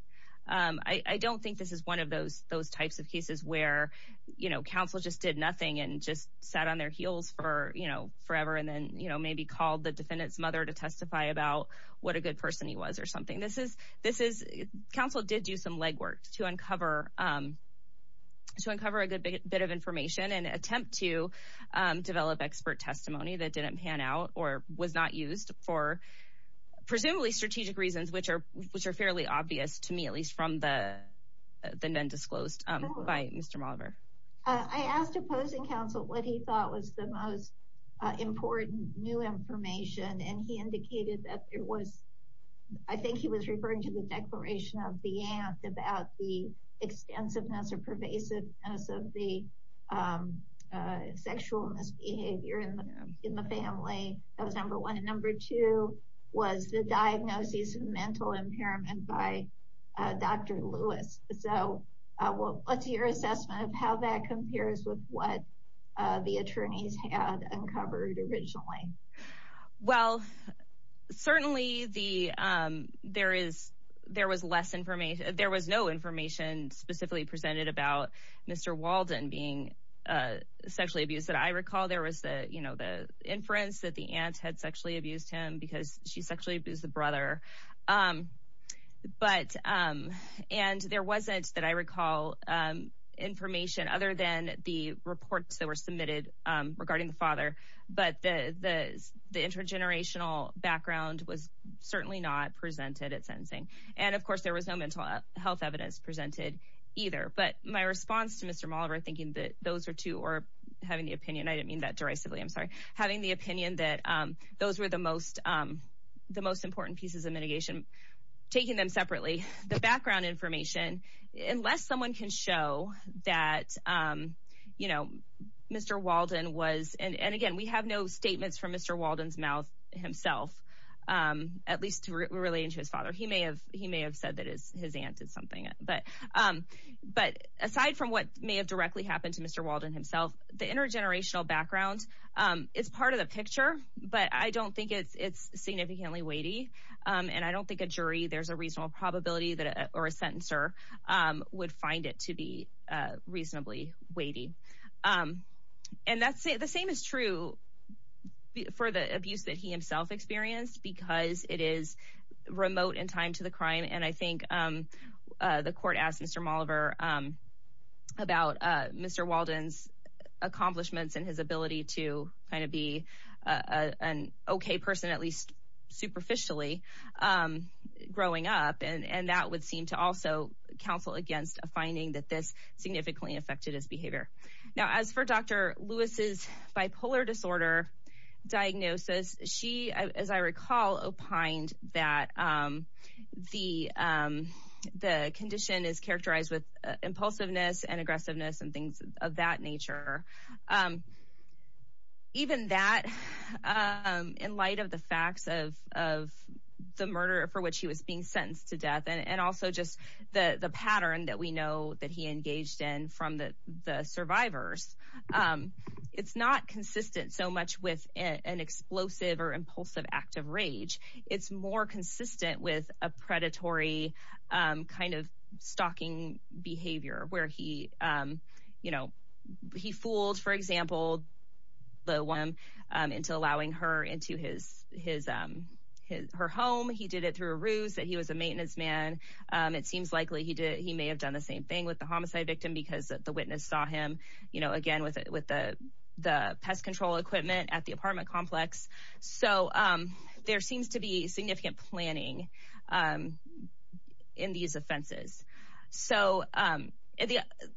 I don't think this is one of those those types of cases where, you know, counsel just did nothing and just sat on their heels for, you know, forever. And then, you know, maybe called the defendant's mother to testify about what a good person he was or something. This is this is counsel did do some legwork to uncover, to uncover a good bit of information and attempt to develop expert testimony that didn't pan out or was not used for presumably strategic reasons, which are which are fairly obvious to me, at least from the then been disclosed by Mr. I asked opposing counsel what he thought was the most important new information. And he indicated that it was I think he was referring to the declaration of the act about the extensiveness or pervasive of the sexual misbehavior in the family. That was number one. And number two was the diagnosis of mental impairment by Dr. Lewis. So what's your assessment of how that compares with what the attorneys had uncovered originally? Well, certainly the there is there was less information. There was no information specifically presented about Mr. Walden being sexually abused that I recall. There was the, you know, the inference that the aunt had sexually abused him because she sexually abused the brother. But and there wasn't that I recall information other than the reports that were submitted regarding the father. But the intergenerational background was certainly not presented at sentencing. And of course, there was no mental health evidence presented either. But my response to Mr. Malver thinking that those are two or having the opinion, I didn't mean that derisively. I'm sorry. Having the opinion that those were the most the most important pieces of mitigation, taking them separately, the background information, unless someone can show that, you know, Mr. Walden was. And again, we have no statements from Mr. Walden's mouth himself, at least relating to his father. He may have he may have said that his aunt did something. But but aside from what may have directly happened to Mr. Walden himself, the intergenerational background is part of the picture. But I don't think it's it's significantly weighty. And I don't think a jury there's a reasonable probability that or a sentencer would find it to be reasonably weighty. And that's the same is true for the abuse that he himself experienced, because it is remote in time to the crime. And I think the court asked Mr. Malver about Mr. Walden's accomplishments and his ability to kind of be an OK person, at least superficially growing up. And that would seem to also counsel against a finding that this significantly affected his behavior. Now, as for Dr. Lewis's bipolar disorder diagnosis, she, as I recall, opined that the the condition is characterized with impulsiveness and aggressiveness and things of that nature. Even that in light of the facts of of the murder for which he was being sentenced to death and also just the pattern that we know that he engaged in from the survivors, it's not consistent so much with an explosive or impulsive act of rage. It's more consistent with a predatory kind of stalking behavior where he, you know, he fooled, for example, the one into allowing her into his his his her home. He did it through a ruse that he was a maintenance man. It seems likely he did. He may have done the same thing with the homicide victim because the witness saw him, you know, again with with the the pest control equipment at the apartment complex. So there seems to be significant planning in these offenses. So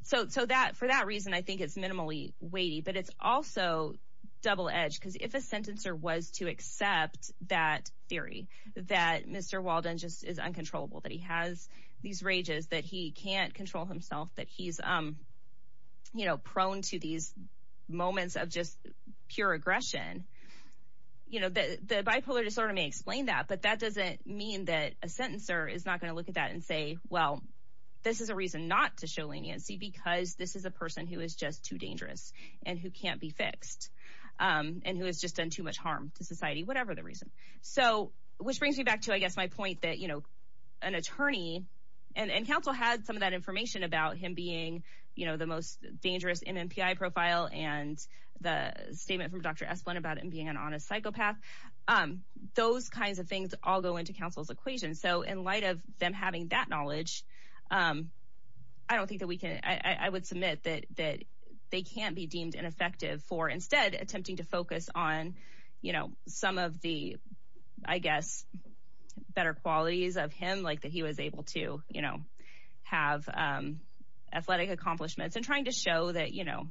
so so that for that reason, I think it's minimally weighty, but it's also double edged because if a sentencer was to accept that theory that Mr. Walden just is uncontrollable, that he has these rages, that he can't control himself, that he's, you know, prone to these moments of just pure aggression, you know, the bipolar disorder may explain that. But that doesn't mean that a sentencer is not going to look at that and say, well, this is a reason not to show leniency because this is a person who is just too dangerous and who can't be fixed and who has just done too much harm to society, whatever the reason. So which brings me back to, I guess, my point that, you know, an attorney and counsel had some of that information about him being, you know, the most dangerous MMPI profile and the statement from Dr. Esplanade about him being an honest psychopath. Those kinds of things all go into counsel's equation. And so in light of them having that knowledge, I don't think that we can I would submit that that they can't be deemed ineffective for instead attempting to focus on, you know, some of the, I guess, better qualities of him, like that he was able to, you know, have athletic accomplishments and trying to show that, you know,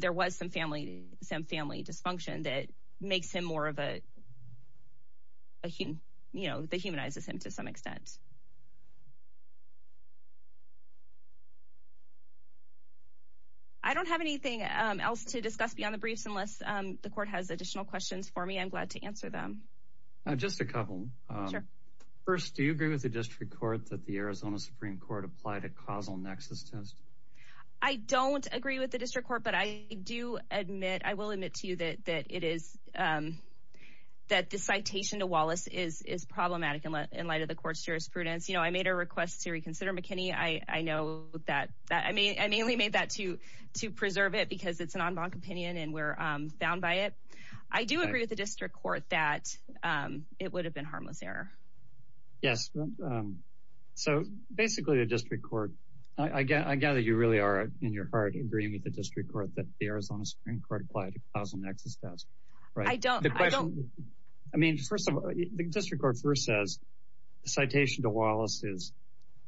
there was some family, some family dysfunction that makes him more of a human, you know, that humanizes him to some extent. I don't have anything else to discuss beyond the briefs unless the court has additional questions for me, I'm glad to answer them. Just a couple. Sure. First, do you agree with the district court that the Arizona Supreme Court applied a causal nexus test? I don't agree with the district court, but I do admit, I will admit to you that it is that the citation to Wallace is problematic in light of the court's jurisprudence. You know, I made a request to reconsider McKinney. I know that I mean, I mainly made that to to preserve it because it's an en banc opinion and we're bound by it. I do agree with the district court that it would have been harmless error. Yes. So basically, the district court, I gather you really are in your heart agreeing with the district court that the Arizona Supreme Court applied a causal nexus test. Right. I don't. I mean, first of all, the district court first says citation to Wallace is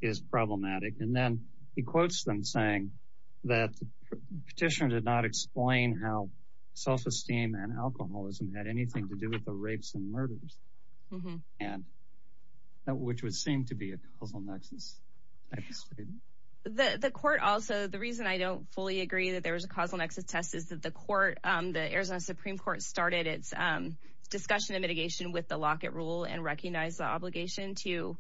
is problematic. And then he quotes them saying that petitioner did not explain how self-esteem and alcoholism had anything to do with the rapes and murders and which would seem to be a causal nexus. The court. Also, the reason I don't fully agree that there was a causal nexus test is that the court, the Arizona Supreme Court, started its discussion of mitigation with the locket rule and recognize the obligation to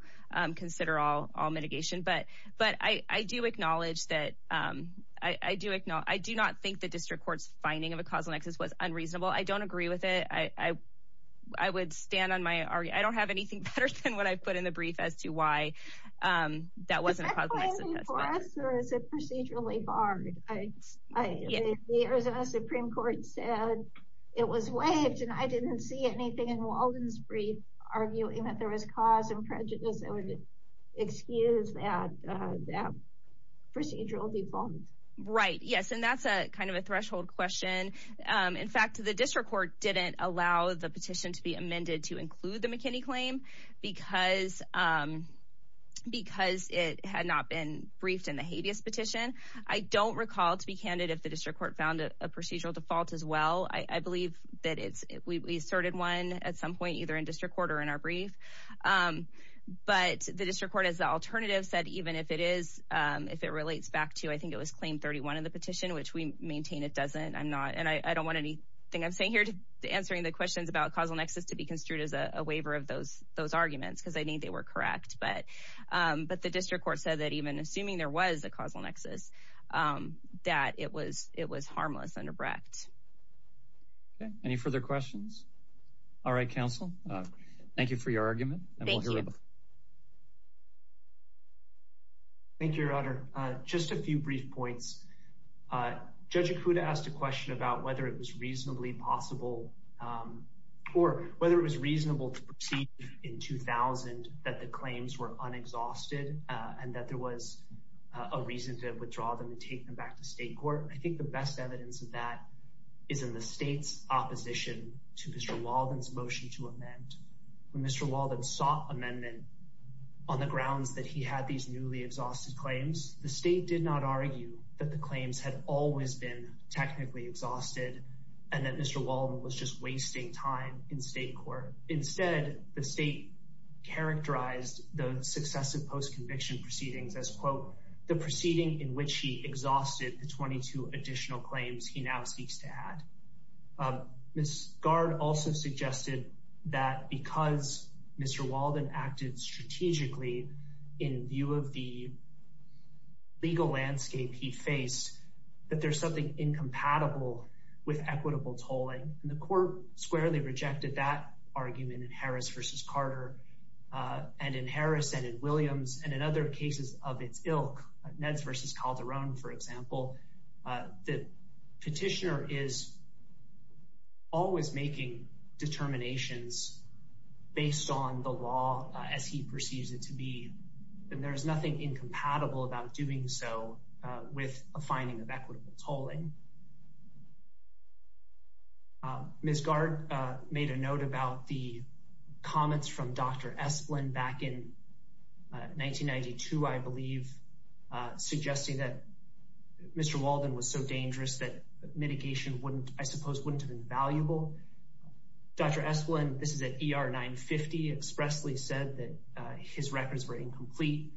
consider all all mitigation. But but I do acknowledge that I do it. No, I do not think the district court's finding of a causal nexus was unreasonable. I don't agree with it. I would stand on my. I don't have anything better than what I've put in the brief as to why that wasn't possible. Is it procedurally barred? I mean, the Arizona Supreme Court said it was waived and I didn't see anything in Walden's brief arguing that there was cause and prejudice that would excuse that procedural default. Right. Yes. And that's a kind of a threshold question. In fact, the district court didn't allow the petition to be amended to include the McKinney claim because because it had not been briefed in the habeas petition. I don't recall to be candid if the district court found a procedural default as well. I believe that it's we started one at some point, either in district court or in our brief. But the district court, as the alternative said, even if it is, if it relates back to, I think it was claimed 31 in the petition, which we maintain it doesn't. I'm not and I don't want anything I'm saying here to answering the questions about causal nexus to be construed as a waiver of those those arguments, because I think they were correct. But but the district court said that even assuming there was a causal nexus, that it was it was harmless and abrupt. Any further questions? All right, counsel. Thank you for your argument. Thank you. Thank you, Your Honor. Just a few brief points. Judge Acuda asked a question about whether it was reasonably possible or whether it was reasonable to proceed in 2000 that the claims were unexhausted and that there was a reason to withdraw them and take them back to state court. I think the best evidence of that is in the state's opposition to Mr. Walden's motion to amend Mr. Walden sought amendment on the grounds that he had these newly exhausted claims. The state did not argue that the claims had always been technically exhausted and that Mr. Walden was just wasting time in state court. Instead, the state characterized the successive post-conviction proceedings as, quote, the proceeding in which he exhausted the 22 additional claims he now seeks to add. Ms. Gard also suggested that because Mr. Walden acted strategically in view of the legal landscape he faced, that there's something incompatible with equitable tolling. And the court squarely rejected that argument in Harris versus Carter and in Harris and in Williams and in other cases of its ilk, Neds versus Calderon, for example. The petitioner is always making determinations based on the law as he perceives it to be, and there is nothing incompatible about doing so with a finding of equitable tolling. Ms. Gard made a note about the comments from Dr. Esplin back in 1992, I believe, suggesting that Mr. Walden was so dangerous that mitigation wouldn't, I suppose, wouldn't have been valuable. Dr. Esplin, this is at ER 950, expressly said that his records were incomplete.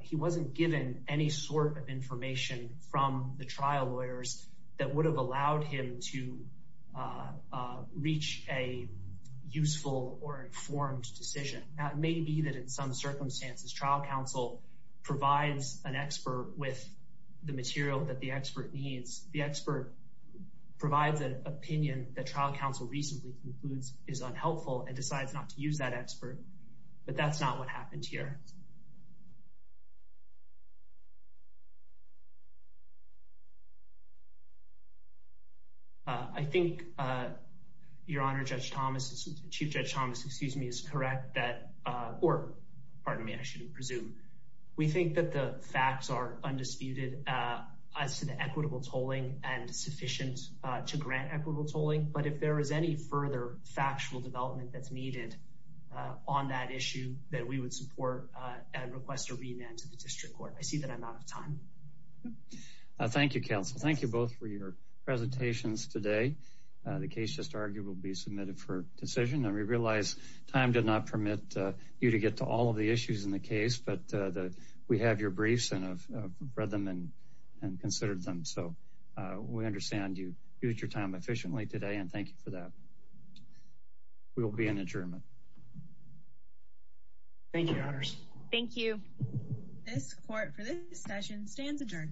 He wasn't given any sort of information from the trial lawyers that would have allowed him to reach a useful or informed decision. Now, it may be that in some circumstances, trial counsel provides an expert with the material that the expert needs. The expert provides an opinion that trial counsel recently concludes is unhelpful and decides not to use that expert. But that's not what happened here. I think, Your Honor, Judge Thomas, Chief Judge Thomas, excuse me, is correct that or pardon me, I shouldn't presume. We think that the facts are undisputed as to the equitable tolling and sufficient to grant equitable tolling. But if there is any further factual development that's needed on that issue that we would support and request a remand to the district court. I see that I'm out of time. Thank you, counsel. Thank you both for your presentations today. The case just argued will be submitted for decision. And we realize time did not permit you to get to all of the issues in the case. But we have your briefs and have read them and considered them. So we understand you used your time efficiently today. And thank you for that. We will be in adjournment. Thank you, Your Honors. Thank you. This court for this session stands adjourned.